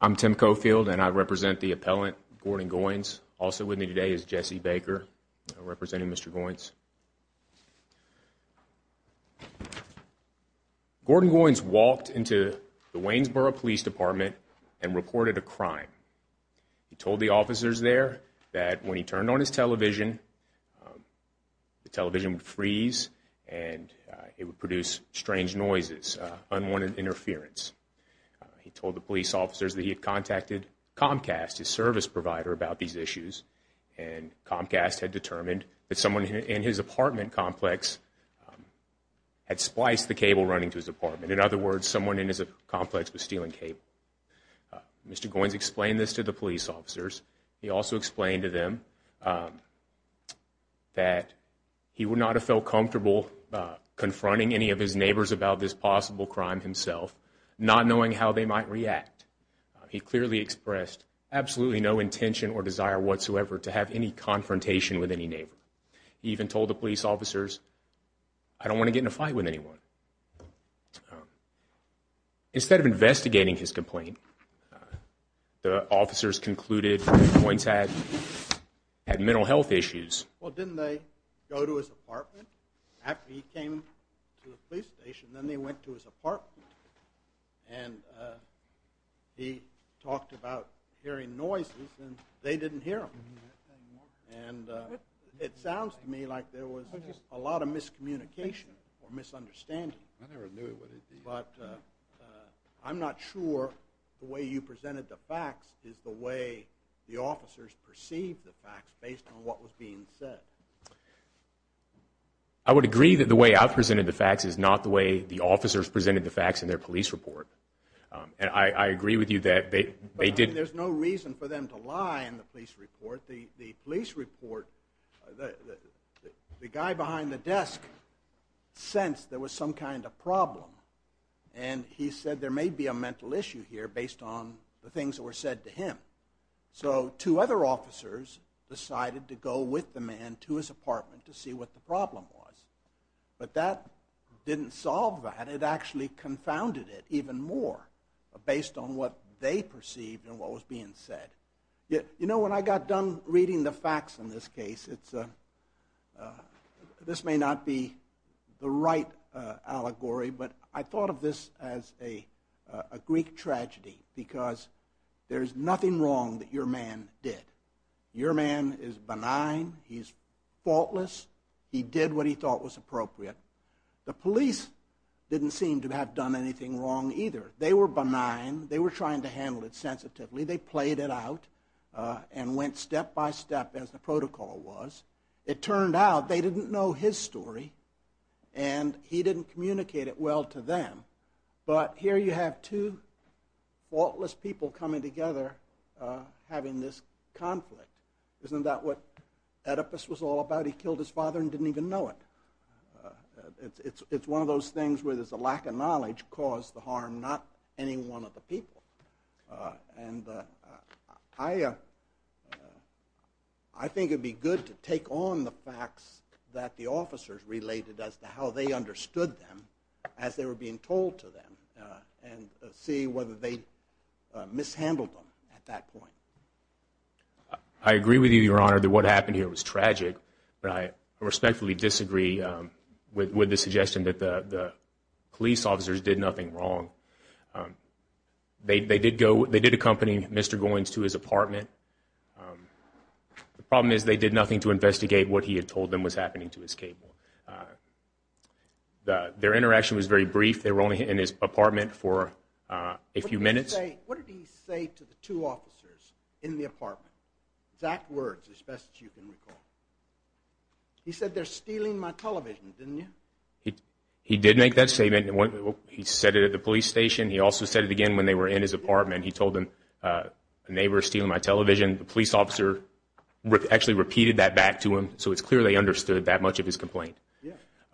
I'm Tim Coffield and I represent the appellant, Gordon Goines. Also with me today is Jesse Baker, representing Mr. Goines. Gordon Goines walked into the Waynesboro Police Department and reported a crime. He told the officers there that when he turned on his television, the television would freeze and it would produce strange noises, unwanted interference. He told the police officers that he had contacted Comcast, his service provider, about these issues. And Comcast had determined that someone in his apartment complex had spliced the cable running to his apartment. In other words, someone in his complex was stealing cable. Mr. Goines explained this to the police officers. He also explained to them that he would not have felt comfortable confronting any of his neighbors about this possible crime himself, not knowing how they might react. He clearly expressed absolutely no intention or desire whatsoever to have any confrontation with any neighbor. He even told the police officers, I don't want to get in a fight with anyone. Instead of investigating his complaint, the officers concluded Goines had mental health issues. Well, didn't they go to his apartment? After he came to the police station, then they went to his apartment. And he talked about hearing noises and they didn't hear him. And it sounds to me like there was a lot of miscommunication or misunderstanding. But I'm not sure the way you presented the facts is the way the officers perceived the facts based on what was being said. I would agree that the way I presented the facts is not the way the officers presented the facts in their police report. And I agree with you that they did. But there's no reason for them to lie in the police report. The police report, the guy behind the desk sensed there was some kind of problem. And he said there may be a mental issue here based on the things that were said to him. So two other officers decided to go with the man to his apartment to see what the problem was. But that didn't solve that. It actually confounded it even more based on what they perceived and what was being said. You know, when I got done reading the facts in this case, this may not be the right allegory, but I thought of this as a Greek tragedy because there's nothing wrong that your man did. Your man is benign. He's faultless. He did what he thought was appropriate. The police didn't seem to have done anything wrong either. They were benign. They were trying to handle it sensitively. They played it out and went step by step as the protocol was. It turned out they didn't know his story, and he didn't communicate it well to them. But here you have two faultless people coming together having this conflict. Isn't that what Oedipus was all about? He killed his father and didn't even know it. It's one of those things where there's a lack of knowledge caused the harm, not any one of the people. And I think it would be good to take on the facts that the officers related as to how they understood them as they were being told to them and see whether they mishandled them at that point. I agree with you, Your Honor, that what happened here was tragic, but I respectfully disagree with the suggestion that the police officers did nothing wrong. They did accompany Mr. Goins to his apartment. The problem is they did nothing to investigate what he had told them was happening to his cable. Their interaction was very brief. They were only in his apartment for a few minutes. What did he say to the two officers in the apartment, exact words as best you can recall? He said, they're stealing my television, didn't you? He did make that statement. He said it at the police station. He also said it again when they were in his apartment. He told them, they were stealing my television. The police officer actually repeated that back to him, so it's clear they understood that much of his complaint.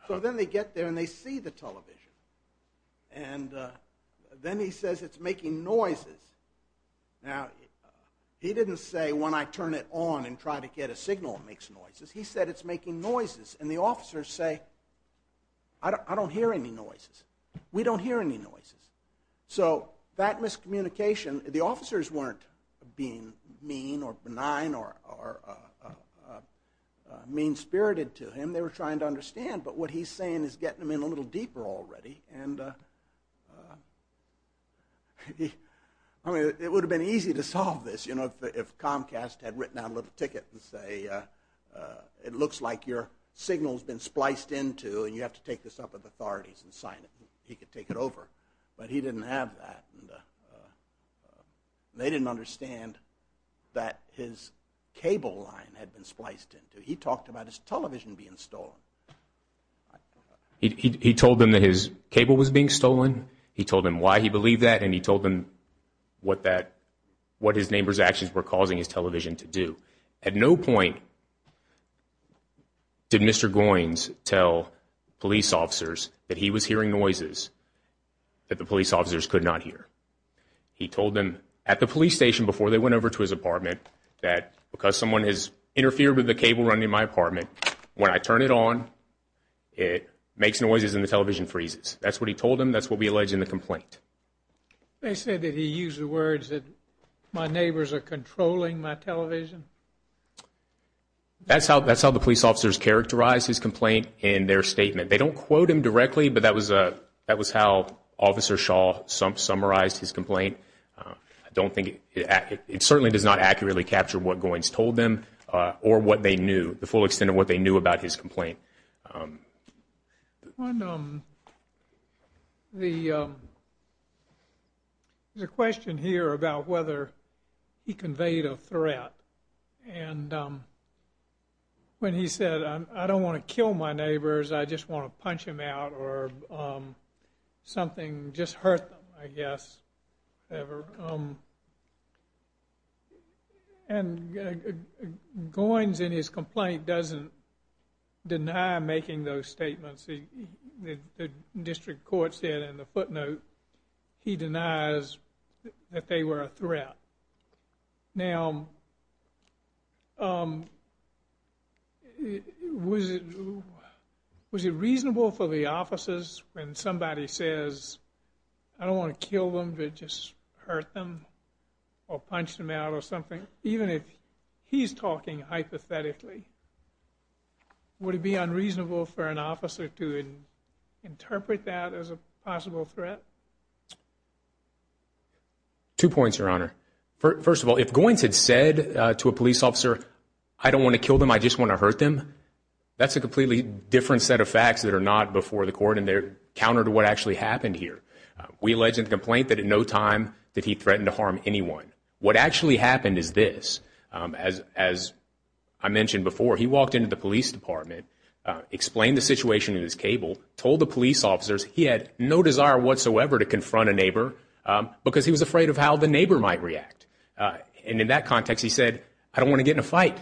So then they get there and they see the television, and then he says, it's making noises. Now, he didn't say, when I turn it on and try to get a signal, it makes noises. He said, it's making noises, and the officers say, I don't hear any noises. We don't hear any noises. So that miscommunication, the officers weren't being mean or benign or mean-spirited to him. They were trying to understand, but what he's saying is getting them in a little deeper already. I mean, it would have been easy to solve this, you know, if Comcast had written out a little ticket and say, it looks like your signal's been spliced into, and you have to take this up with authorities and sign it. He could take it over, but he didn't have that. They didn't understand that his cable line had been spliced into. He talked about his television being stolen. He told them that his cable was being stolen. He told them why he believed that, and he told them what his neighbor's actions were causing his television to do. At no point did Mr. Goines tell police officers that he was hearing noises that the police officers could not hear. He told them at the police station before they went over to his apartment that, because someone has interfered with the cable running in my apartment, when I turn it on, it makes noises and the television freezes. That's what he told them. That's what we allege in the complaint. They say that he used the words that my neighbors are controlling my television. That's how the police officers characterized his complaint in their statement. They don't quote him directly, but that was how Officer Shaw summarized his complaint. I don't think it certainly does not accurately capture what Goines told them or what they knew, the full extent of what they knew about his complaint. There's a question here about whether he conveyed a threat. When he said, I don't want to kill my neighbors. I just want to punch them out or something, just hurt them, I guess. Goines, in his complaint, doesn't deny making those statements. The district court said in the footnote he denies that they were a threat. Now, was it reasonable for the officers, when somebody says, I don't want to kill them, but just hurt them or punch them out or something, even if he's talking hypothetically, would it be unreasonable for an officer to interpret that as a possible threat? Two points, Your Honor. First of all, if Goines had said to a police officer, I don't want to kill them, I just want to hurt them, that's a completely different set of facts that are not before the court and they're counter to what actually happened here. We allege in the complaint that in no time did he threaten to harm anyone. What actually happened is this. As I mentioned before, he walked into the police department, explained the situation in his cable, told the police officers he had no desire whatsoever to confront a neighbor because he was afraid of how the neighbor might react. And in that context, he said, I don't want to get in a fight.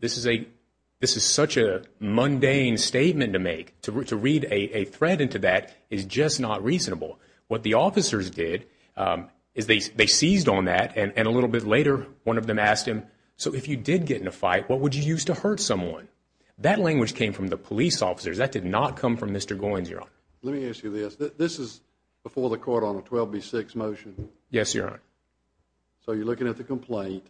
This is such a mundane statement to make. To read a threat into that is just not reasonable. What the officers did is they seized on that, and a little bit later one of them asked him, so if you did get in a fight, what would you use to hurt someone? That language came from the police officers. That did not come from Mr. Goines, Your Honor. Let me ask you this. This is before the court on a 12B6 motion. Yes, Your Honor. So you're looking at the complaint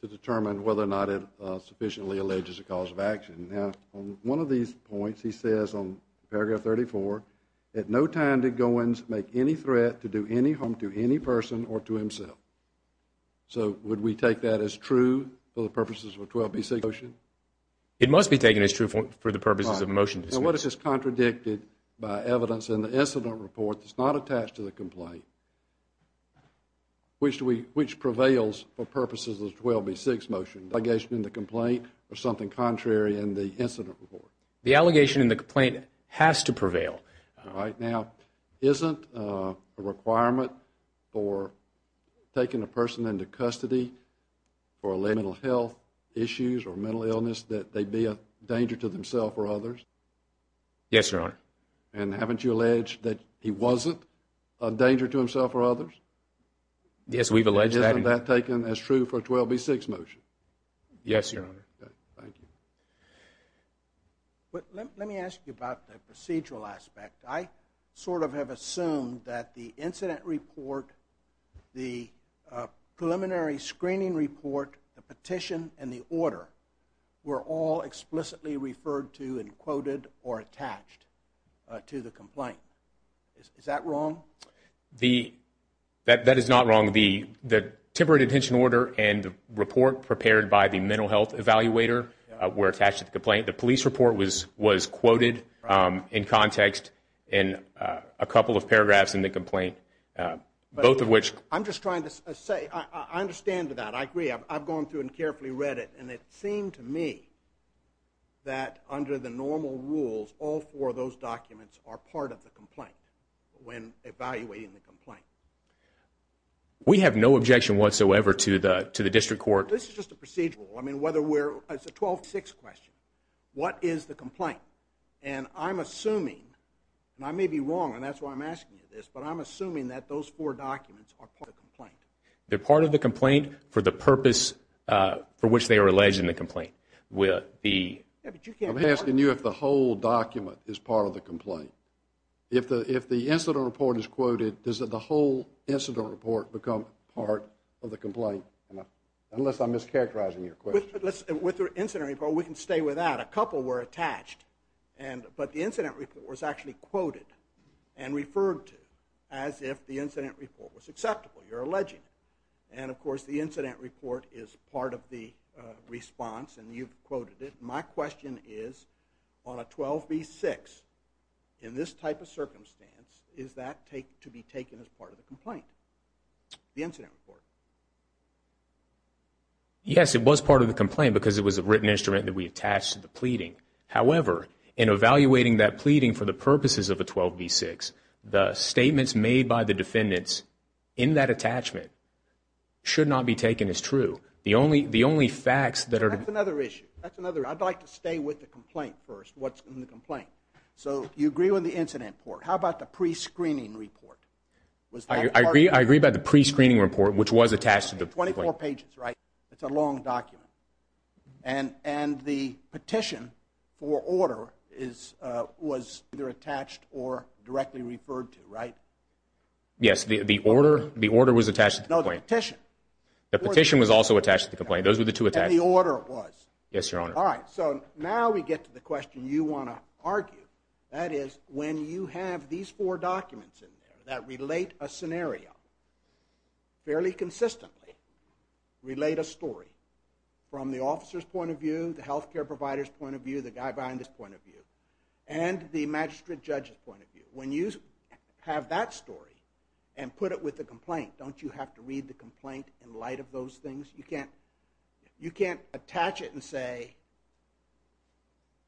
to determine whether or not it sufficiently alleges a cause of action. Now, on one of these points, he says on paragraph 34, in no time did Goines make any threat to do any harm to any person or to himself. So would we take that as true for the purposes of a 12B6 motion? It must be taken as true for the purposes of a motion. Now, what if it's contradicted by evidence in the incident report that's not attached to the complaint? Which prevails for purposes of the 12B6 motion, the allegation in the complaint or something contrary in the incident report? The allegation in the complaint has to prevail. All right. Now, isn't a requirement for taking a person into custody for mental health issues or mental illness that they be a danger to themselves or others? Yes, Your Honor. And haven't you alleged that he wasn't a danger to himself or others? Yes, we've alleged that. Isn't that taken as true for a 12B6 motion? Yes, Your Honor. Thank you. Let me ask you about the procedural aspect. I sort of have assumed that the incident report, the preliminary screening report, the petition, and the order were all explicitly referred to and quoted or attached to the complaint. Is that wrong? That is not wrong. The temporary detention order and the report prepared by the mental health evaluator were attached to the complaint. The police report was quoted in context in a couple of paragraphs in the complaint, both of which. I'm just trying to say I understand that. I agree. I've gone through and carefully read it, and it seemed to me that under the normal rules all four of those documents are part of the complaint when evaluating the complaint. We have no objection whatsoever to the district court. This is just a procedural. It's a 12B6 question. What is the complaint? I'm assuming, and I may be wrong, and that's why I'm asking you this, but I'm assuming that those four documents are part of the complaint. They're part of the complaint for the purpose for which they are alleged in the complaint. I'm asking you if the whole document is part of the complaint. If the incident report is quoted, does the whole incident report become part of the complaint? Unless I'm mischaracterizing your question. With the incident report, we can stay with that. A couple were attached, but the incident report was actually quoted and referred to as if the incident report was acceptable. You're alleging it. And, of course, the incident report is part of the response, and you've quoted it. My question is on a 12B6, in this type of circumstance, is that to be taken as part of the complaint, the incident report? Yes, it was part of the complaint because it was a written instrument that we attached to the pleading. However, in evaluating that pleading for the purposes of a 12B6, the statements made by the defendants in that attachment should not be taken as true. The only facts that are – That's another issue. I'd like to stay with the complaint first, what's in the complaint. So you agree with the incident report. How about the prescreening report? I agree about the prescreening report, which was attached to the complaint. 24 pages, right? It's a long document. And the petition for order was either attached or directly referred to, right? Yes, the order was attached to the complaint. No, the petition. The petition was also attached to the complaint. Those were the two attached. And the order was. Yes, Your Honor. All right, so now we get to the question you want to argue. That is, when you have these four documents in there that relate a scenario fairly consistently, relate a story from the officer's point of view, the health care provider's point of view, the guy behind this point of view, and the magistrate judge's point of view, when you have that story and put it with the complaint, don't you have to read the complaint in light of those things? You can't attach it and say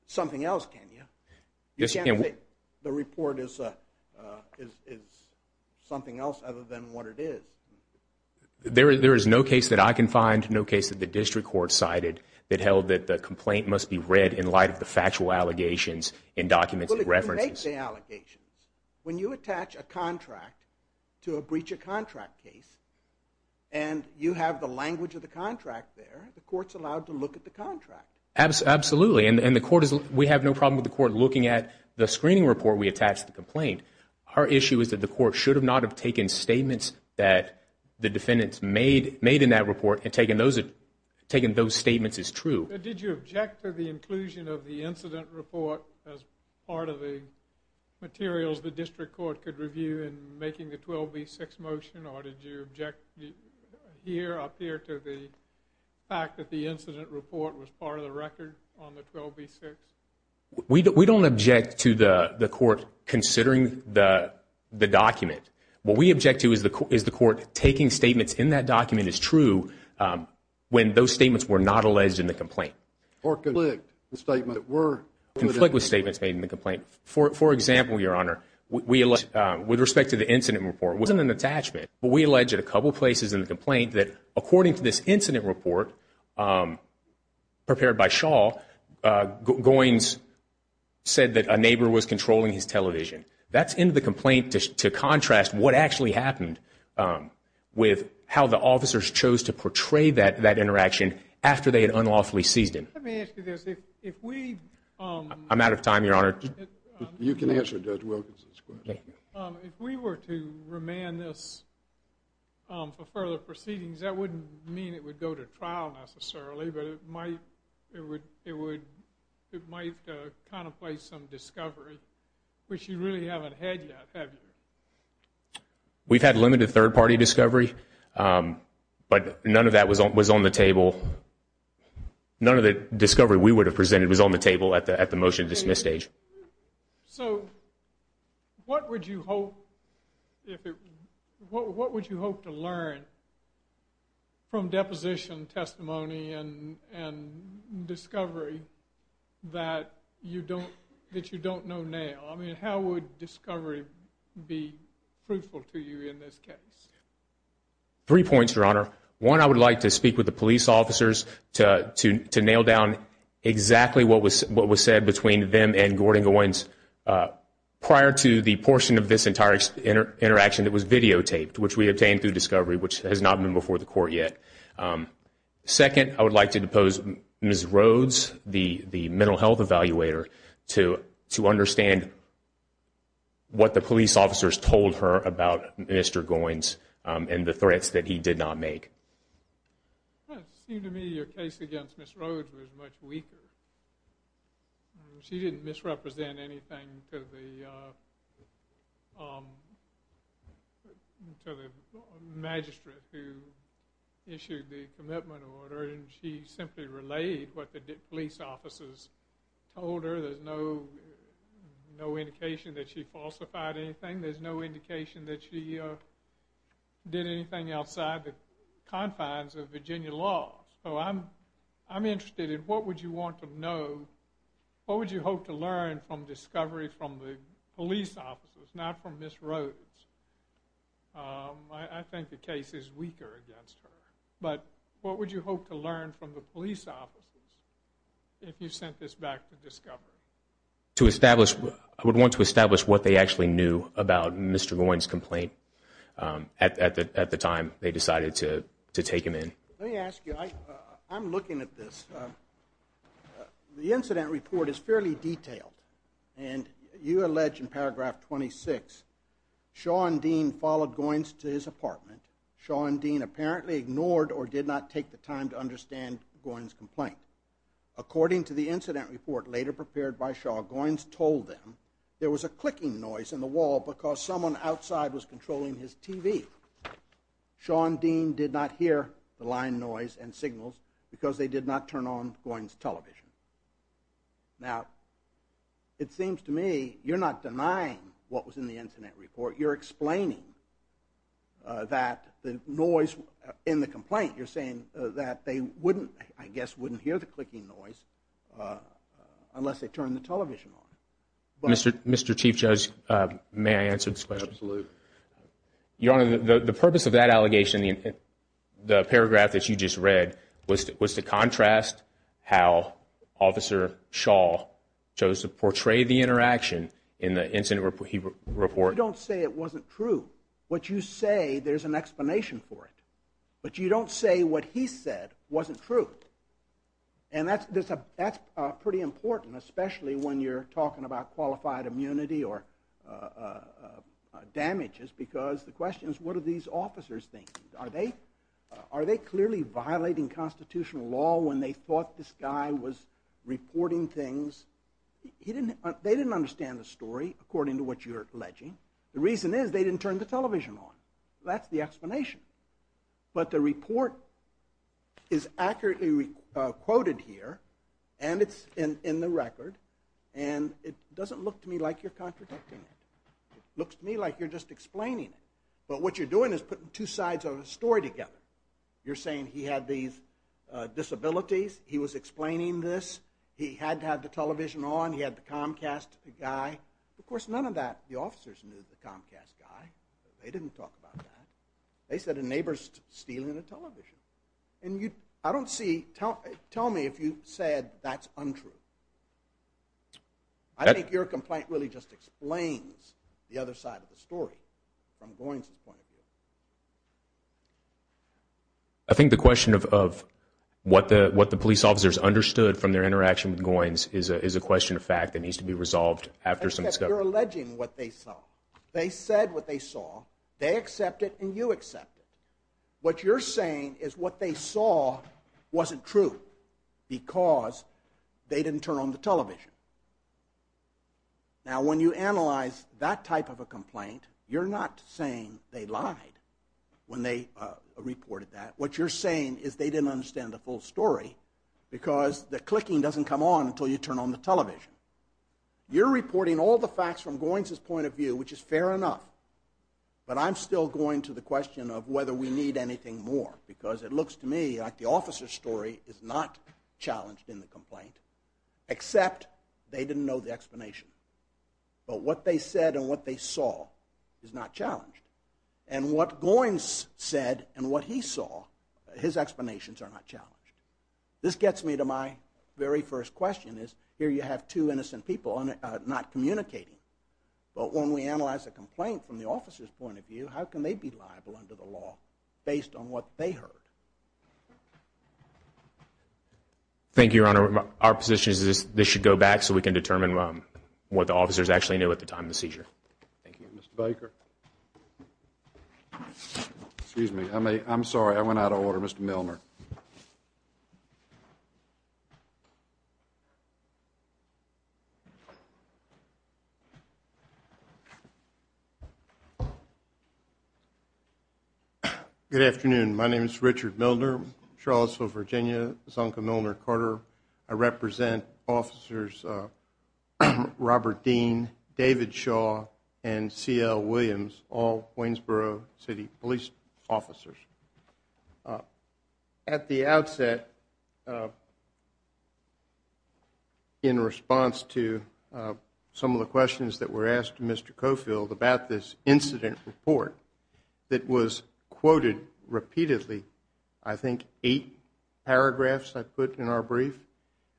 something else, can you? You can't say the report is something else other than what it is. There is no case that I can find, no case that the district court cited, that held that the complaint must be read in light of the factual allegations and documents and references. But if you make the allegations, when you attach a contract to a breach of contract case and you have the language of the contract there, the court's allowed to look at the contract. Absolutely, and we have no problem with the court looking at the screening report we attached to the complaint. Our issue is that the court should not have taken statements that the defendants made in that report and taken those statements as true. Did you object to the inclusion of the incident report as part of the materials the district court could review in making the 12B6 motion or did you object up here to the fact that the incident report was part of the record on the 12B6? We don't object to the court considering the document. What we object to is the court taking statements in that document as true when those statements were not alleged in the complaint. Or conflict with statements made in the complaint. For example, Your Honor, with respect to the incident report, it wasn't an attachment, but we allege at a couple places in the complaint that according to this incident report prepared by Shaw, Goins said that a neighbor was controlling his television. That's in the complaint to contrast what actually happened with how the officers chose to portray that interaction after they had unlawfully seized him. Let me ask you this. I'm out of time, Your Honor. You can answer Judge Wilkinson's question. If we were to remand this for further proceedings, that wouldn't mean it would go to trial necessarily, but it might contemplate some discovery, which you really haven't had yet, have you? We've had limited third-party discovery, but none of that was on the table. None of the discovery we would have presented was on the table at the motion to dismiss stage. So what would you hope to learn from deposition testimony and discovery that you don't know now? I mean, how would discovery be fruitful to you in this case? Three points, Your Honor. One, I would like to speak with the police officers to nail down exactly what was said between them and Gordon Goins prior to the portion of this entire interaction that was videotaped, which we obtained through discovery, which has not been before the court yet. Second, I would like to depose Ms. Rhodes, the mental health evaluator, to understand what the police officers told her about Mr. Goins and the threats that he did not make. It seemed to me your case against Ms. Rhodes was much weaker. She didn't misrepresent anything to the magistrate who issued the commitment order, and she simply relayed what the police officers told her. There's no indication that she falsified anything. There's no indication that she did anything outside the confines of Virginia laws. So I'm interested in what would you want to know, what would you hope to learn from discovery from the police officers, not from Ms. Rhodes? I think the case is weaker against her. But what would you hope to learn from the police officers if you sent this back to discovery? I would want to establish what they actually knew about Mr. Goins' complaint at the time they decided to take him in. Let me ask you, I'm looking at this. The incident report is fairly detailed, and you allege in paragraph 26, Sean Dean followed Goins to his apartment. Sean Dean apparently ignored or did not take the time to understand Goins' complaint. According to the incident report later prepared by Sean, Goins told them there was a clicking noise in the wall because someone outside was controlling his TV. Sean Dean did not hear the line noise and signals because they did not turn on Goins' television. Now, it seems to me you're not denying what was in the incident report. You're explaining that the noise in the complaint, you're saying that they wouldn't, I guess, wouldn't hear the clicking noise unless they turned the television on. Mr. Chief Judge, may I answer this question? Absolutely. Your Honor, the purpose of that allegation, the paragraph that you just read, was to contrast how Officer Shaw chose to portray the interaction in the incident report. You don't say it wasn't true. What you say, there's an explanation for it. But you don't say what he said wasn't true. And that's pretty important, especially when you're talking about qualified immunity or damages, because the question is what are these officers thinking? Are they clearly violating constitutional law when they thought this guy was reporting things? They didn't understand the story, according to what you're alleging. The reason is they didn't turn the television on. That's the explanation. But the report is accurately quoted here, and it's in the record, and it doesn't look to me like you're contradicting it. It looks to me like you're just explaining it. But what you're doing is putting two sides of the story together. You're saying he had these disabilities, he was explaining this, he had to have the television on, he had the Comcast guy. Of course, none of that, the officers knew the Comcast guy. They didn't talk about that. They said a neighbor's stealing a television. And I don't see, tell me if you said that's untrue. I think your complaint really just explains the other side of the story from Goins' point of view. I think the question of what the police officers understood from their interaction with Goins is a question of fact that needs to be resolved after some discussion. You're alleging what they saw. They said what they saw. They accept it, and you accept it. What you're saying is what they saw wasn't true because they didn't turn on the television. Now, when you analyze that type of a complaint, you're not saying they lied when they reported that. What you're saying is they didn't understand the full story because the clicking doesn't come on until you turn on the television. You're reporting all the facts from Goins' point of view, which is fair enough, but I'm still going to the question of whether we need anything more because it looks to me like the officer's story is not challenged in the complaint except they didn't know the explanation. But what they said and what they saw is not challenged. And what Goins said and what he saw, his explanations are not challenged. This gets me to my very first question is here you have two innocent people not communicating, but when we analyze a complaint from the officer's point of view, how can they be liable under the law based on what they heard? Thank you, Your Honor. Our position is this should go back so we can determine what the officers actually knew at the time of the seizure. Thank you. Mr. Baker? Excuse me. I'm sorry. I went out of order. Mr. Milner? Good afternoon. My name is Richard Milner, Charlottesville, Virginia, Zonka Milner Carter. I represent officers Robert Dean, David Shaw, and C.L. Williams, all Waynesboro City police officers. At the outset, in response to some of the questions that were asked to Mr. Coffield about this incident report that was quoted repeatedly, I think eight paragraphs I put in our brief,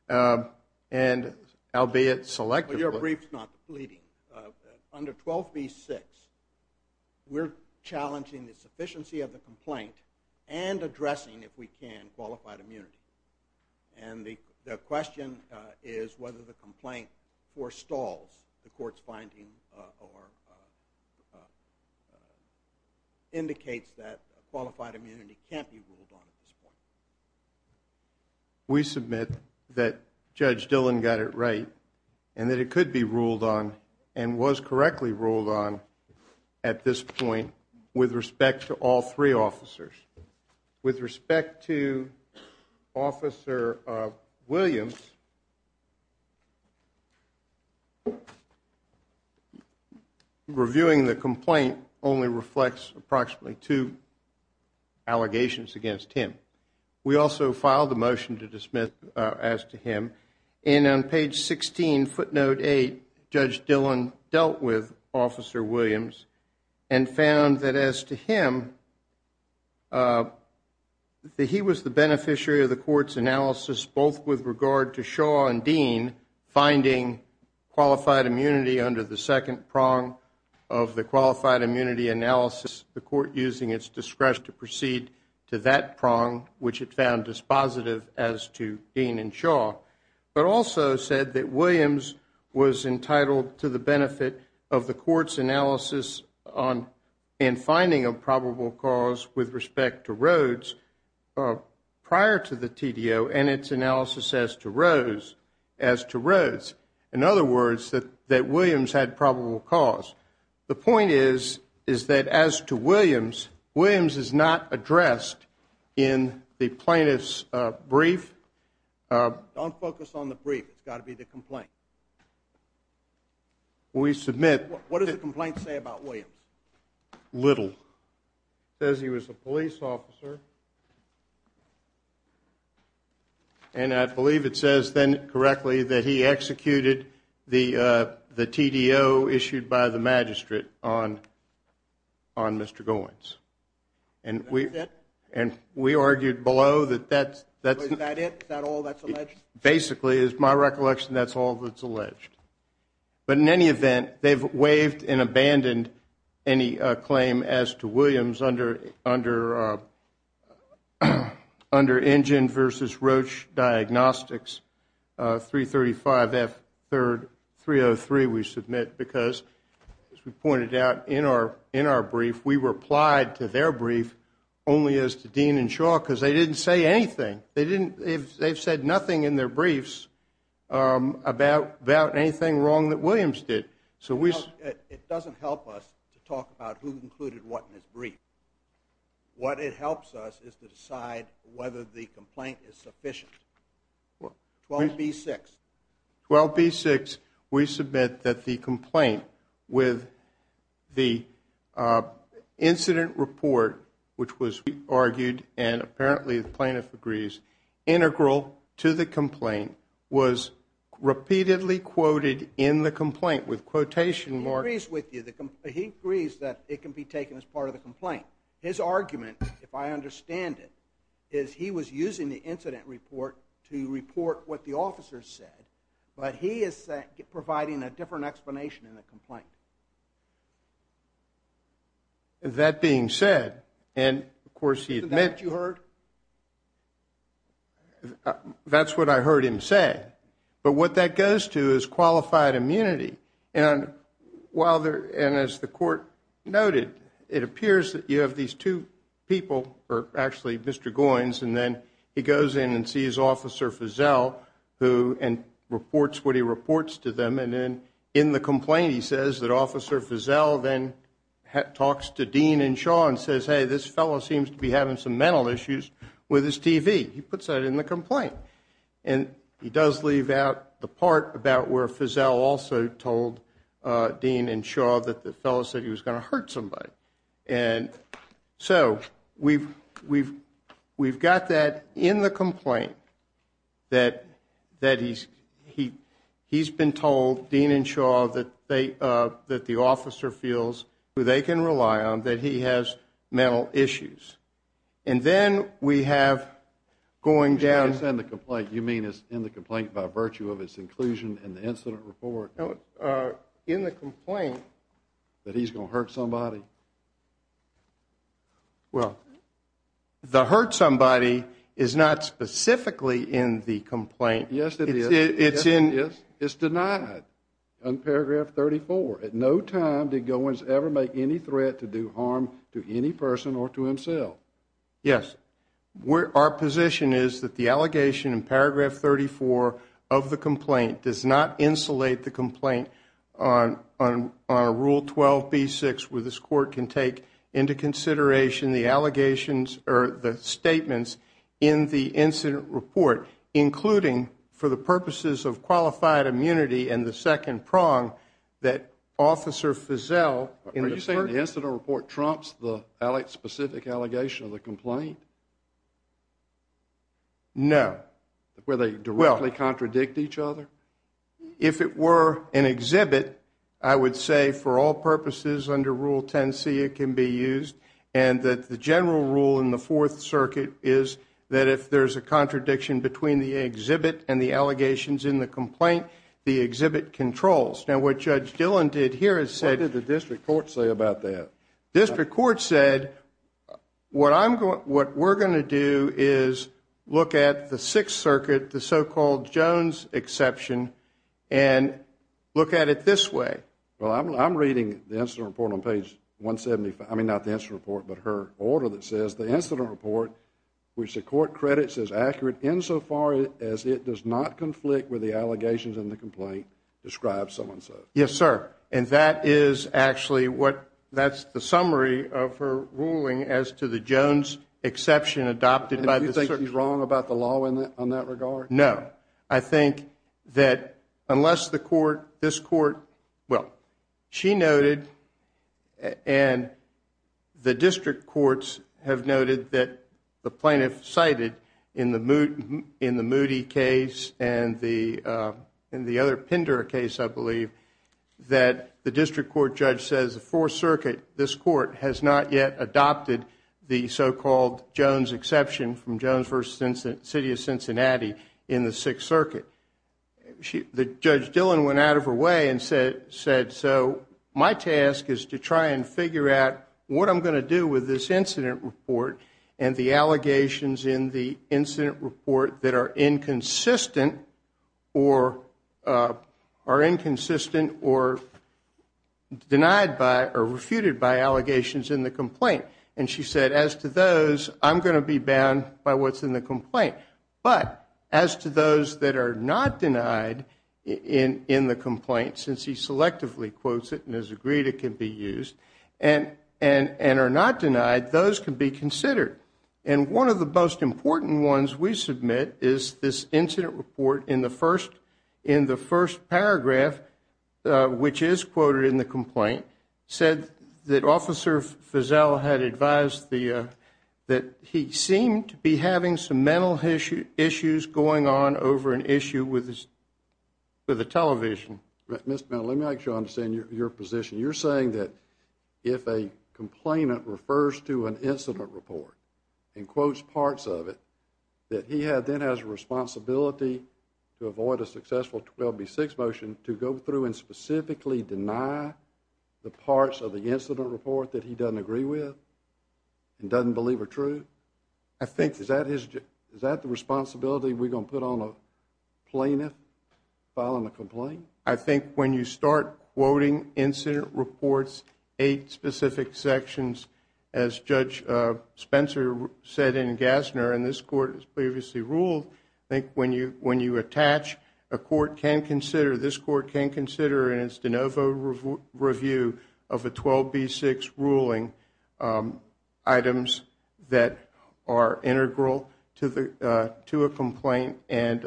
and albeit selectively. Well, your brief is not completing. Under 12B-6, we're challenging the sufficiency of the complaint and addressing, if we can, qualified immunity. And the question is whether the complaint forestalls the court's finding or indicates that qualified immunity can't be ruled on at this point. We submit that Judge Dillon got it right and that it could be ruled on and was correctly ruled on at this point with respect to all three officers. With respect to Officer Williams, reviewing the complaint only reflects approximately two allegations against him. We also filed a motion to dismiss as to him. And on page 16, footnote 8, Judge Dillon dealt with Officer Williams and found that as to him, that he was the beneficiary of the court's analysis, both with regard to Shaw and Dean finding qualified immunity under the second prong of the qualified immunity analysis, the court using its discretion to proceed to that prong, which it found dispositive as to Dean and Shaw, but also said that Williams was entitled to the benefit of the court's analysis and finding of probable cause with respect to Rhodes prior to the TDO and its analysis as to Rhodes. In other words, that Williams had probable cause. The point is that as to Williams, Williams is not addressed in the plaintiff's brief. Don't focus on the brief. It's got to be the complaint. We submit. What does the complaint say about Williams? Little. It says he was a police officer. And I believe it says then correctly that he executed the TDO issued by the magistrate on Mr. Goins. And that's it? And we argued below that that's it. Is that all that's alleged? Basically, it's my recollection that's all that's alleged. But in any event, they've waived and abandoned any claim as to Williams under Injun versus Roche Diagnostics, 335F303 we submit because, as we pointed out in our brief, we replied to their brief only as to Dean and Shaw because they didn't say anything. They've said nothing in their briefs about anything wrong that Williams did. It doesn't help us to talk about who included what in his brief. What it helps us is to decide whether the complaint is sufficient. 12B6. 12B6, we submit that the complaint with the incident report, which was argued and apparently the plaintiff agrees, integral to the complaint was repeatedly quoted in the complaint with quotation marks. He agrees with you. He agrees that it can be taken as part of the complaint. His argument, if I understand it, is he was using the incident report to report what the officers said, but he is providing a different explanation in the complaint. That being said, and, of course, he admitted. Is that what you heard? That's what I heard him say. But what that goes to is qualified immunity. And as the court noted, it appears that you have these two people, or actually Mr. Goins, and then he goes in and sees Officer Feazell and reports what he reports to them. And then in the complaint he says that Officer Feazell then talks to Dean and Shaw and says, hey, this fellow seems to be having some mental issues with his TV. He puts that in the complaint. And he does leave out the part about where Feazell also told Dean and Shaw that the fellow said he was going to hurt somebody. And so we've got that in the complaint that he's been told, Dean and Shaw, that the officer feels who they can rely on, that he has mental issues. And then we have going down to the complaint. You mean it's in the complaint by virtue of its inclusion in the incident report? No, in the complaint. That he's going to hurt somebody? Well, the hurt somebody is not specifically in the complaint. Yes, it is. It's denied in paragraph 34. At no time did Goins ever make any threat to do harm to any person or to himself. Yes. Our position is that the allegation in paragraph 34 of the complaint does not insulate the complaint on Rule 12b-6, where this court can take into consideration the allegations or the statements in the incident report, including, for the purposes of qualified immunity and the second prong, that Officer Feazell in the first... Are you saying the incident report trumps the specific allegation of the complaint? No. Where they directly contradict each other? If it were an exhibit, I would say for all purposes under Rule 10c, it can be used, and that the general rule in the Fourth Circuit is that if there's a contradiction between the exhibit and the allegations in the complaint, the exhibit controls. Now, what Judge Dillon did here is said... What did the district court say about that? District court said, what we're going to do is look at the Sixth Circuit, the so-called Jones exception, and look at it this way. Well, I'm reading the incident report on page 175... I mean, not the incident report, but her order that says, the incident report, which the court credits as accurate insofar as it does not conflict with the allegations in the complaint, describes someone so. Yes, sir. And that is actually what... That's the summary of her ruling as to the Jones exception adopted... Do you think she's wrong about the law on that regard? No. I think that unless the court, this court... Well, she noted and the district courts have noted that the plaintiff cited in the Moody case and the other Pinder case, I believe, that the district court judge says the Fourth Circuit, this court, has not yet adopted the so-called Jones exception from Jones v. City of Cincinnati in the Sixth Circuit. Judge Dillon went out of her way and said, so my task is to try and figure out what I'm going to do with this incident report and the allegations in the incident report that are inconsistent or denied by or refuted by allegations in the complaint. And she said, as to those, I'm going to be bound by what's in the complaint. But as to those that are not denied in the complaint, since he selectively quotes it and has agreed it can be used, and are not denied, those can be considered. And one of the most important ones we submit is this incident report in the first paragraph, which is quoted in the complaint, said that Officer Feazell had advised that he seemed to be having some mental issues going on over an issue with the television. Let me make sure I understand your position. You're saying that if a complainant refers to an incident report and quotes parts of it, that he then has a responsibility to avoid a successful 12B6 motion, to go through and specifically deny the parts of the incident report that he doesn't agree with and doesn't believe are true? I think, is that the responsibility we're going to put on a plaintiff, filing a complaint? I think when you start quoting incident reports, eight specific sections, as Judge Spencer said in Gassner, and this Court has previously ruled, I think when you attach a court can consider, in its de novo review of a 12B6 ruling, items that are integral to a complaint and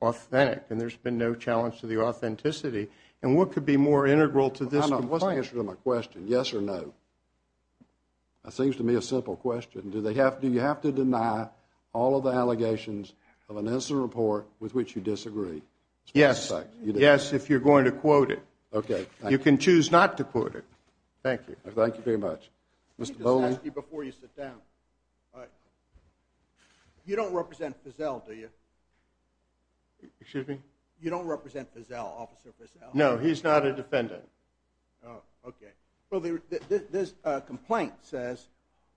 authentic, and there's been no challenge to the authenticity. And what could be more integral to this complaint? I know, I wasn't answering my question, yes or no. That seems to me a simple question. Do you have to deny all of the allegations of an incident report with which you disagree? Yes. Yes, if you're going to quote it. Okay, thank you. You can choose not to quote it. Thank you. Thank you very much. Mr. Bowling? Let me just ask you before you sit down. You don't represent Fizel, do you? Excuse me? You don't represent Fizel, Officer Fizel? No, he's not a defendant. Oh, okay. Well, this complaint says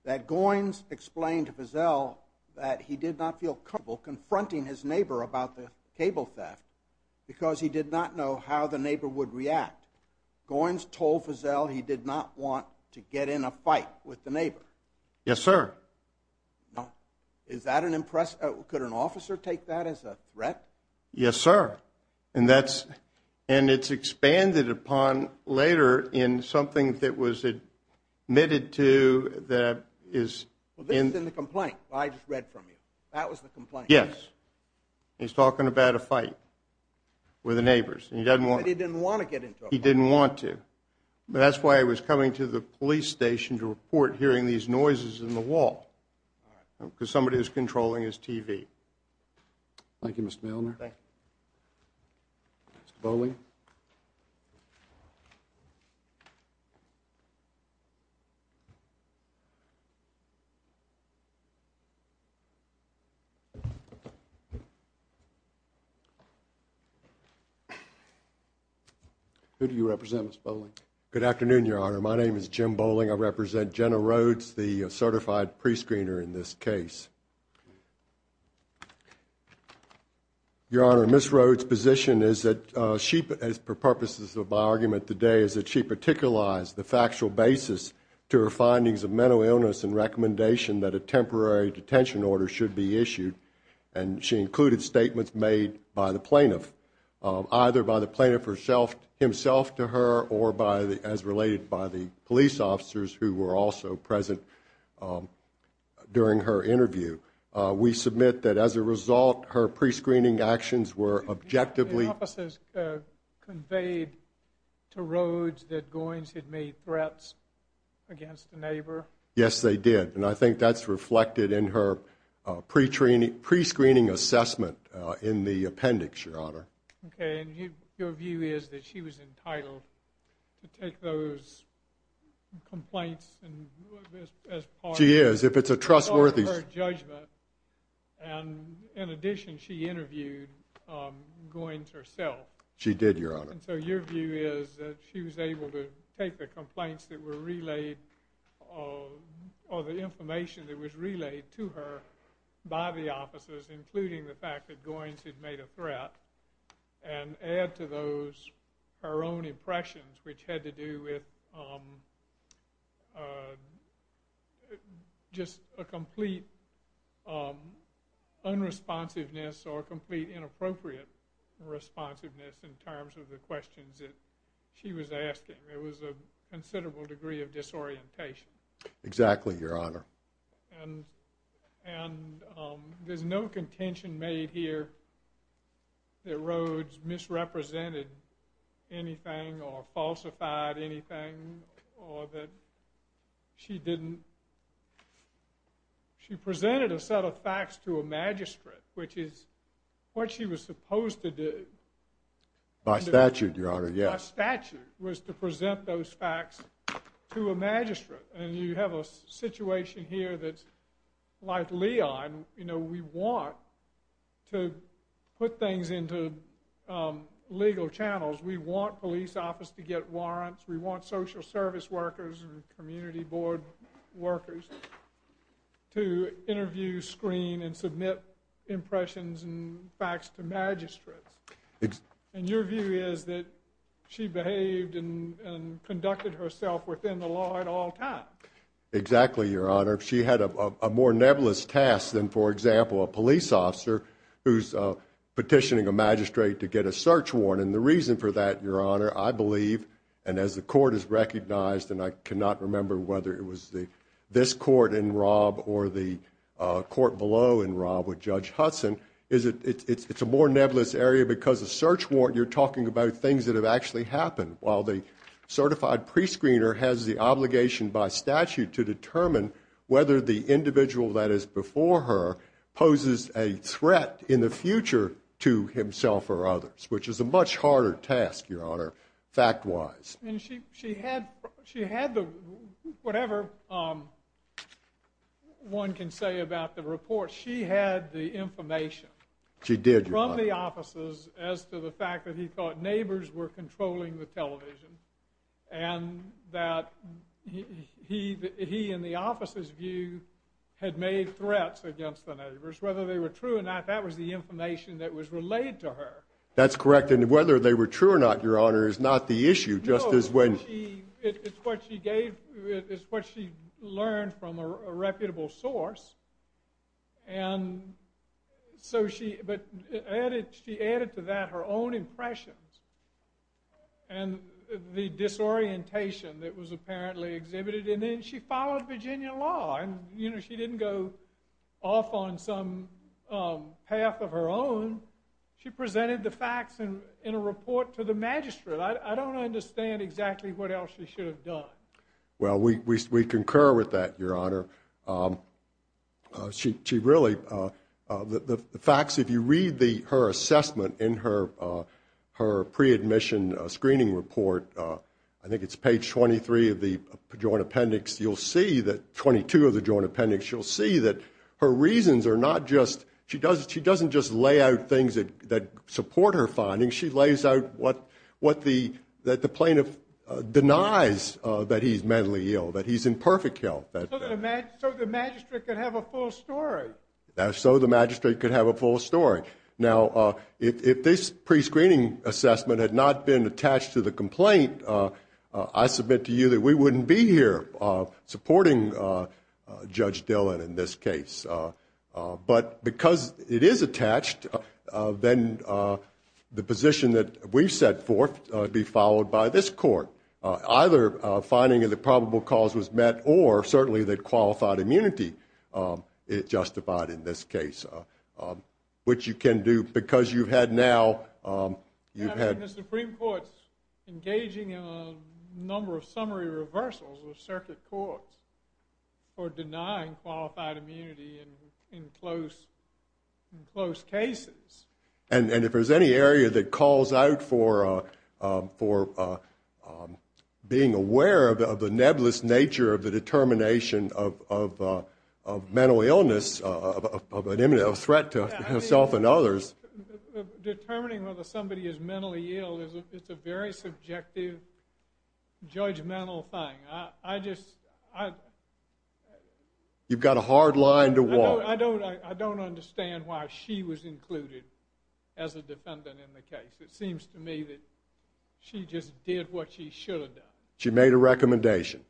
that Goins explained to Fizel that he did not feel comfortable confronting his neighbor about the cable theft because he did not know how the neighbor would react. Goins told Fizel he did not want to get in a fight with the neighbor. Yes, sir. Is that an impression? Could an officer take that as a threat? Yes, sir. And it's expanded upon later in something that was admitted to that is in the complaint. I just read from you. That was the complaint? Yes. He's talking about a fight with the neighbors. He said he didn't want to get into a fight. He didn't want to. That's why he was coming to the police station to report hearing these noises in the wall because somebody was controlling his TV. Thank you, Mr. Milner. Thank you. Mr. Bowling? Who do you represent, Mr. Bowling? Good afternoon, Your Honor. My name is Jim Bowling. I represent Jenna Rhodes, the certified prescreener in this case. Your Honor, Ms. Rhodes' position is that she, for purposes of my argument today, is that she particularized the factual basis to her findings of mental illness and recommendation that a temporary detention order should be issued. And she included statements made by the plaintiff, either by the plaintiff himself to her or as related by the police officers who were also present during her interview. We submit that as a result her prescreening actions were objectively The officers conveyed to Rhodes that Goins had made threats against a neighbor? Yes, they did. And I think that's reflected in her prescreening assessment in the appendix, Your Honor. Okay. And your view is that she was entitled to take those complaints as part of her judgment. She is. If it's a trustworthy And in addition, she interviewed Goins herself. She did, Your Honor. And so your view is that she was able to take the complaints that were relayed or the information that was relayed to her by the officers, including the fact that Goins had made a threat, and add to those her own impressions, which had to do with just a complete unresponsiveness or complete inappropriate responsiveness in terms of the questions that she was asking. There was a considerable degree of disorientation. Exactly, Your Honor. And there's no contention made here that Rhodes misrepresented anything or falsified anything or that she didn't She presented a set of facts to a magistrate, which is what she was supposed to do. By statute, Your Honor, yes. By statute, was to present those facts to a magistrate. And you have a situation here that's like Leon. You know, we want to put things into legal channels. We want police office to get warrants. We want social service workers and community board workers to interview, screen, and submit impressions and facts to magistrates. And your view is that she behaved and conducted herself within the law at all times. Exactly, Your Honor. She had a more nebulous task than, for example, a police officer who's petitioning a magistrate to get a search warrant. And the reason for that, Your Honor, I believe, and as the court has recognized, and I cannot remember whether it was this court in Rob or the court below in Rob with Judge Hudson, it's a more nebulous area because a search warrant, you're talking about things that have actually happened, while the certified prescreener has the obligation by statute to determine whether the individual that is before her poses a threat in the future to himself or others, which is a much harder task, Your Honor, fact-wise. And she had the, whatever one can say about the report, she had the information. She did, Your Honor. From the offices as to the fact that he thought neighbors were controlling the television and that he, in the officer's view, had made threats against the neighbors. Whether they were true or not, that was the information that was relayed to her. That's correct. And whether they were true or not, Your Honor, is not the issue. No, it's what she learned from a reputable source. But she added to that her own impressions and the disorientation that was apparently exhibited. And then she followed Virginia law. And she didn't go off on some path of her own. She presented the facts in a report to the magistrate. I don't understand exactly what else she should have done. Well, we concur with that, Your Honor. She really, the facts, if you read her assessment in her pre-admission screening report, I think it's page 23 of the Joint Appendix, you'll see that, 22 of the Joint Appendix, you'll see that her reasons are not just, she doesn't just lay out things that support her findings. She lays out what the plaintiff denies, that he's mentally ill, that he's in perfect health. So the magistrate could have a full story. So the magistrate could have a full story. Now, if this pre-screening assessment had not been attached to the complaint, I submit to you that we wouldn't be here supporting Judge Dillon in this case. But because it is attached, then the position that we've set forth would be followed by this court, either finding that probable cause was met or certainly that qualified immunity is justified in this case, which you can do because you've had now, you've had. And the Supreme Court's engaging in a number of summary reversals of circuit courts for denying qualified immunity in close cases. And if there's any area that calls out for being aware of the nebulous nature of the determination of mental illness, of an imminent threat to herself and others. Determining whether somebody is mentally ill is a very subjective, judgmental thing. You've got a hard line to walk. I don't understand why she was included as a defendant in the case. It seems to me that she just did what she should have done. She made a recommendation.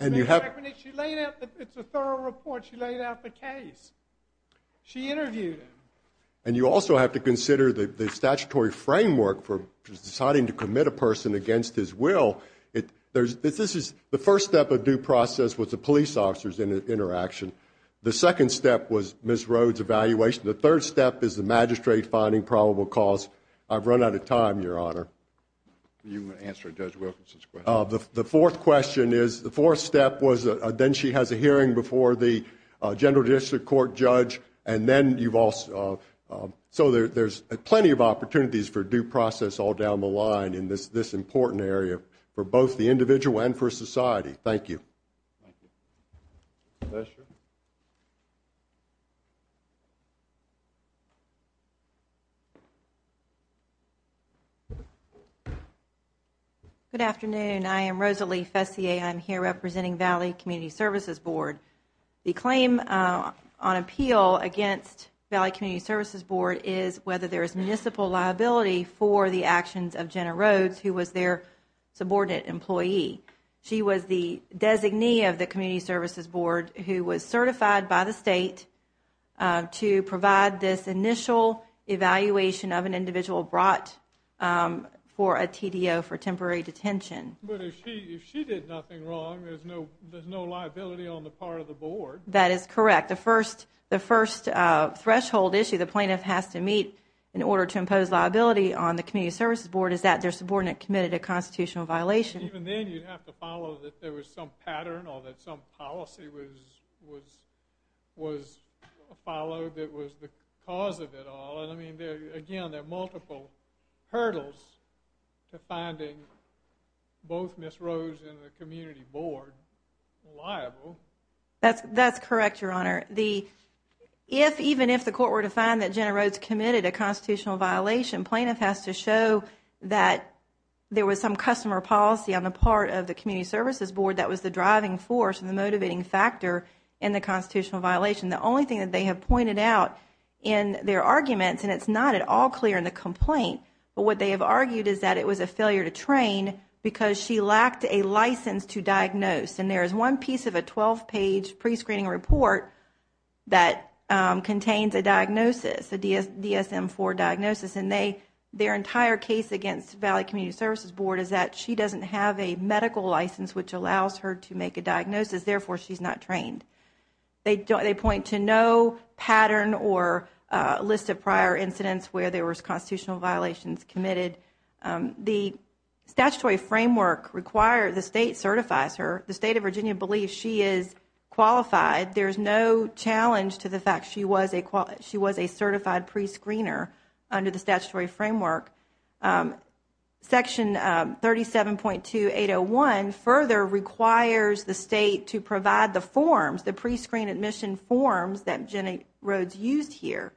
It's a thorough report. She laid out the case. She interviewed him. And you also have to consider the statutory framework for deciding to commit a person against his will. This is the first step of due process with the police officers interaction. The second step was Ms. Rhodes' evaluation. The third step is the magistrate finding probable cause. I've run out of time, Your Honor. You want to answer Judge Wilkinson's question? The fourth question is, the fourth step was then she has a hearing before the general district court judge. And then you've also, so there's plenty of opportunities for due process all down the line in this important area for both the individual and for society. Thank you. Thank you. Professor? Good afternoon. I am Rosalie Fessier. I'm here representing Valley Community Services Board. The claim on appeal against Valley Community Services Board is whether there is municipal liability for the actions of Jenna Rhodes, who was their subordinate employee. She was the designee of the Community Services Board, who was certified by the state to provide this initial evaluation of an individual brought for a TDO for temporary detention. But if she did nothing wrong, there's no liability on the part of the board. That is correct. The first threshold issue the plaintiff has to meet in order to impose liability on the Community Services Board is that their subordinate committed a constitutional violation. Even then, you'd have to follow that there was some pattern or that some policy was followed that was the cause of it all. Again, there are multiple hurdles to finding both Ms. Rhodes and the Community Board liable. That's correct, Your Honor. Even if the court were to find that Jenna Rhodes committed a constitutional violation, plaintiff has to show that there was some customer policy on the part of the Community Services Board that was the driving force and the motivating factor in the constitutional violation. The only thing that they have pointed out in their arguments, and it's not at all clear in the complaint, but what they have argued is that it was a failure to train because she lacked a license to diagnose. There is one piece of a 12-page prescreening report that contains a diagnosis, a DSM-IV diagnosis. Their entire case against Valley Community Services Board is that she doesn't have a medical license, which allows her to make a diagnosis. Therefore, she's not trained. They point to no pattern or list of prior incidents where there was constitutional violations committed. The statutory framework requires the State certifies her. The State of Virginia believes she is qualified. There is no challenge to the fact she was a certified prescreener under the statutory framework. Section 37.2801 further requires the State to provide the forms, the prescreen admission forms that Jenny Rhodes used here,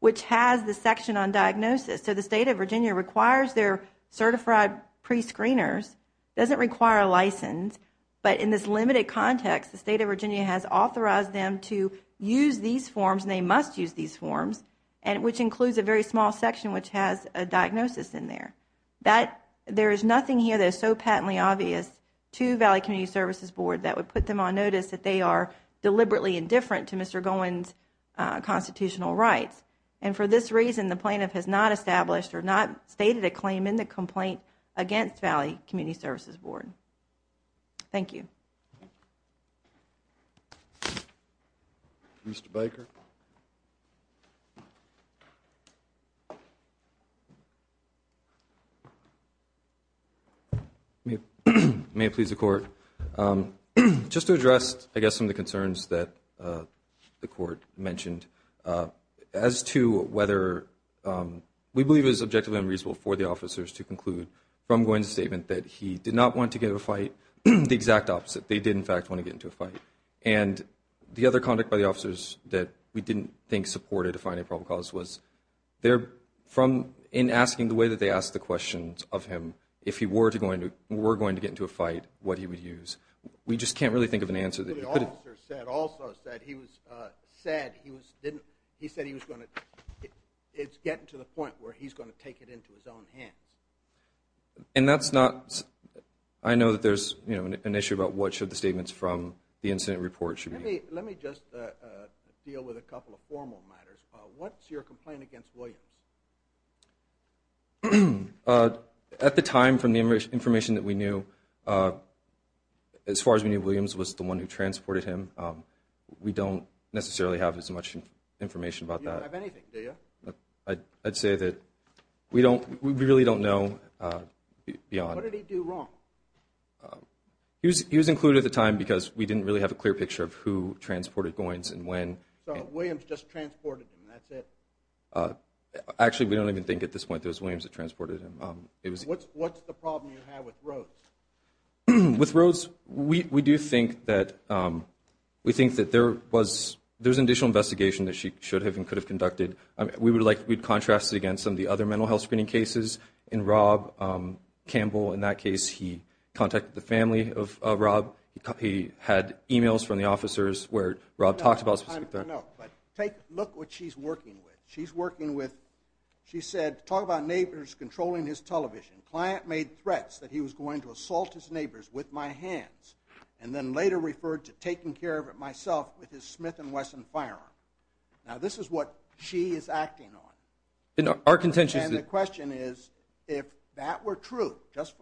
which has the section on diagnosis. So the State of Virginia requires their certified prescreeners. It doesn't require a license, but in this limited context, the State of Virginia has authorized them to use these forms, and they must use these forms, which includes a very small section which has a diagnosis in there. There is nothing here that is so patently obvious to Valley Community Services Board that would put them on notice that they are deliberately indifferent to Mr. Gowen's constitutional rights. And for this reason, the plaintiff has not established or not stated a claim in the complaint against Valley Community Services Board. Thank you. Mr. Baker. May it please the Court. Just to address, I guess, some of the concerns that the Court mentioned, as to whether we believe it is objectively unreasonable for the officers to conclude from Gowen's statement that he did not want to get into a fight, the exact opposite. They did, in fact, want to get into a fight. And the other conduct by the officers that we didn't think supported a finding of probable cause was in asking the way that they asked the questions of him, if he were going to get into a fight, what he would use. We just can't really think of an answer that could have... What the officer said also is that he said he was going to get to the point where he's going to take it into his own hands. And that's not... I know that there's an issue about what should the statements from the incident report should be. Let me just deal with a couple of formal matters. What's your complaint against Williams? At the time, from the information that we knew, as far as we knew, Williams was the one who transported him. We don't necessarily have as much information about that. You don't have anything, do you? I'd say that we really don't know beyond... What did he do wrong? He was included at the time because we didn't really have a clear picture of who transported Goins and when. So Williams just transported him, that's it? Actually, we don't even think at this point that it was Williams that transported him. What's the problem you have with Rhodes? With Rhodes, we do think that there was an additional investigation that she should have and could have conducted. We would contrast it against some of the other mental health screening cases. In Rob Campbell, in that case, he contacted the family of Rob. He had e-mails from the officers where Rob talks about specific threats. No, but look what she's working with. She's working with... She said, talk about neighbors controlling his television. Client made threats that he was going to assault his neighbors with my hands and then later referred to taking care of it myself with his Smith & Wesson firearm. Now, this is what she is acting on. And the question is, if that were true, just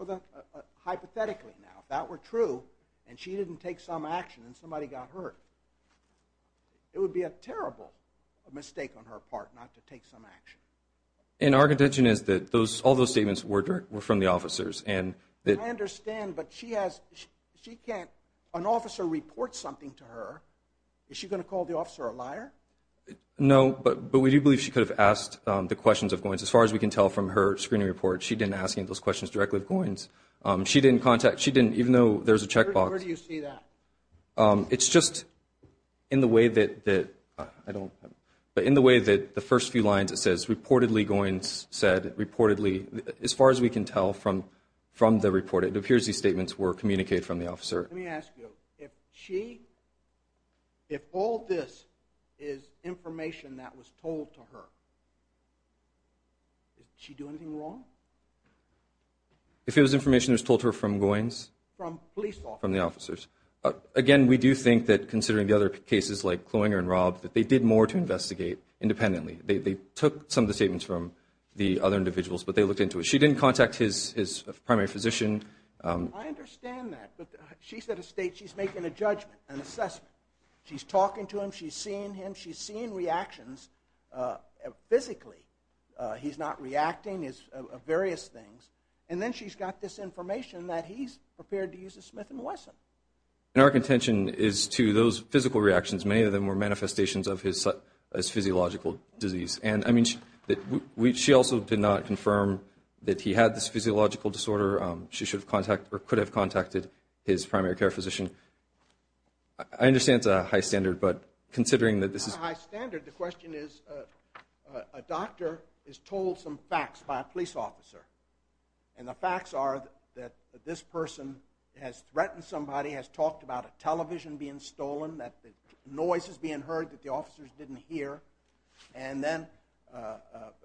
hypothetically now, if that were true and she didn't take some action and somebody got hurt, it would be a terrible mistake on her part not to take some action. And our contention is that all those statements were from the officers. I understand, but she can't... An officer reports something to her. Is she going to call the officer a liar? No, but we do believe she could have asked the questions of Goins. As far as we can tell from her screening report, she didn't ask any of those questions directly of Goins. She didn't contact... Even though there's a checkbox... Where do you see that? It's just in the way that... I don't... But in the way that the first few lines it says, reportedly Goins said, reportedly, as far as we can tell from the report, it appears these statements were communicated from the officer. Let me ask you, if she... If all this is information that was told to her, did she do anything wrong? If it was information that was told to her from Goins? From police officers. From the officers. Again, we do think that, considering the other cases like Kloinger and Rob, that they did more to investigate independently. They took some of the statements from the other individuals, but they looked into it. She didn't contact his primary physician. I understand that, but she's at a stage... She's making a judgment, an assessment. She's talking to him. She's seeing him. She's seeing reactions physically. He's not reacting, various things. And then she's got this information that he's prepared to use a Smith & Wesson. And our contention is to those physical reactions, many of them were manifestations of his physiological disease. And, I mean, she also did not confirm that he had this physiological disorder. She should have contacted or could have contacted his primary care physician. I understand it's a high standard, but considering that this is... It's not a high standard. The question is, a doctor is told some facts by a police officer, and the facts are that this person has threatened somebody, has talked about a television being stolen, that noise is being heard that the officers didn't hear, and then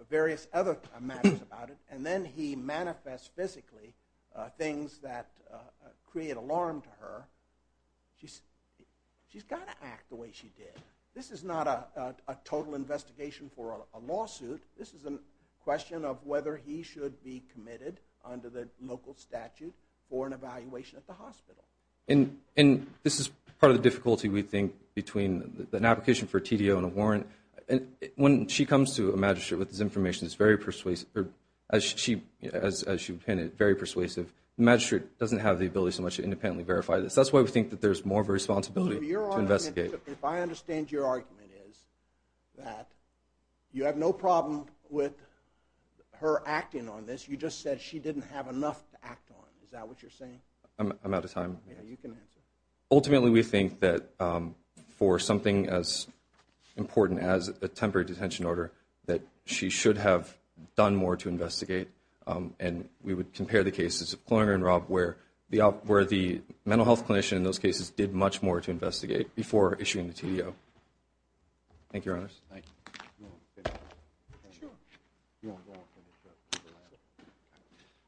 various other matters about it. And then he manifests physically things that create alarm to her. She's got to act the way she did. This is not a total investigation for a lawsuit. This is a question of whether he should be committed under the local statute for an evaluation at the hospital. And this is part of the difficulty, we think, between an application for a TDO and a warrant. When she comes to a magistrate with this information, it's very persuasive. As she would pin it, very persuasive. The magistrate doesn't have the ability so much to independently verify this. That's why we think that there's more of a responsibility to investigate. If I understand your argument is that you have no problem with her acting on this. You just said she didn't have enough to act on. Is that what you're saying? I'm out of time. Yeah, you can answer. Ultimately, we think that for something as important as a temporary detention order, that she should have done more to investigate. And we would compare the cases of Kloninger and Robb where the mental health clinician in those cases did much more to investigate before issuing the TDO. Thank you, Your Honors. Thank you. Sure.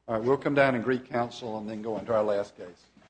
All right, we'll come down and greet counsel and then go into our last case.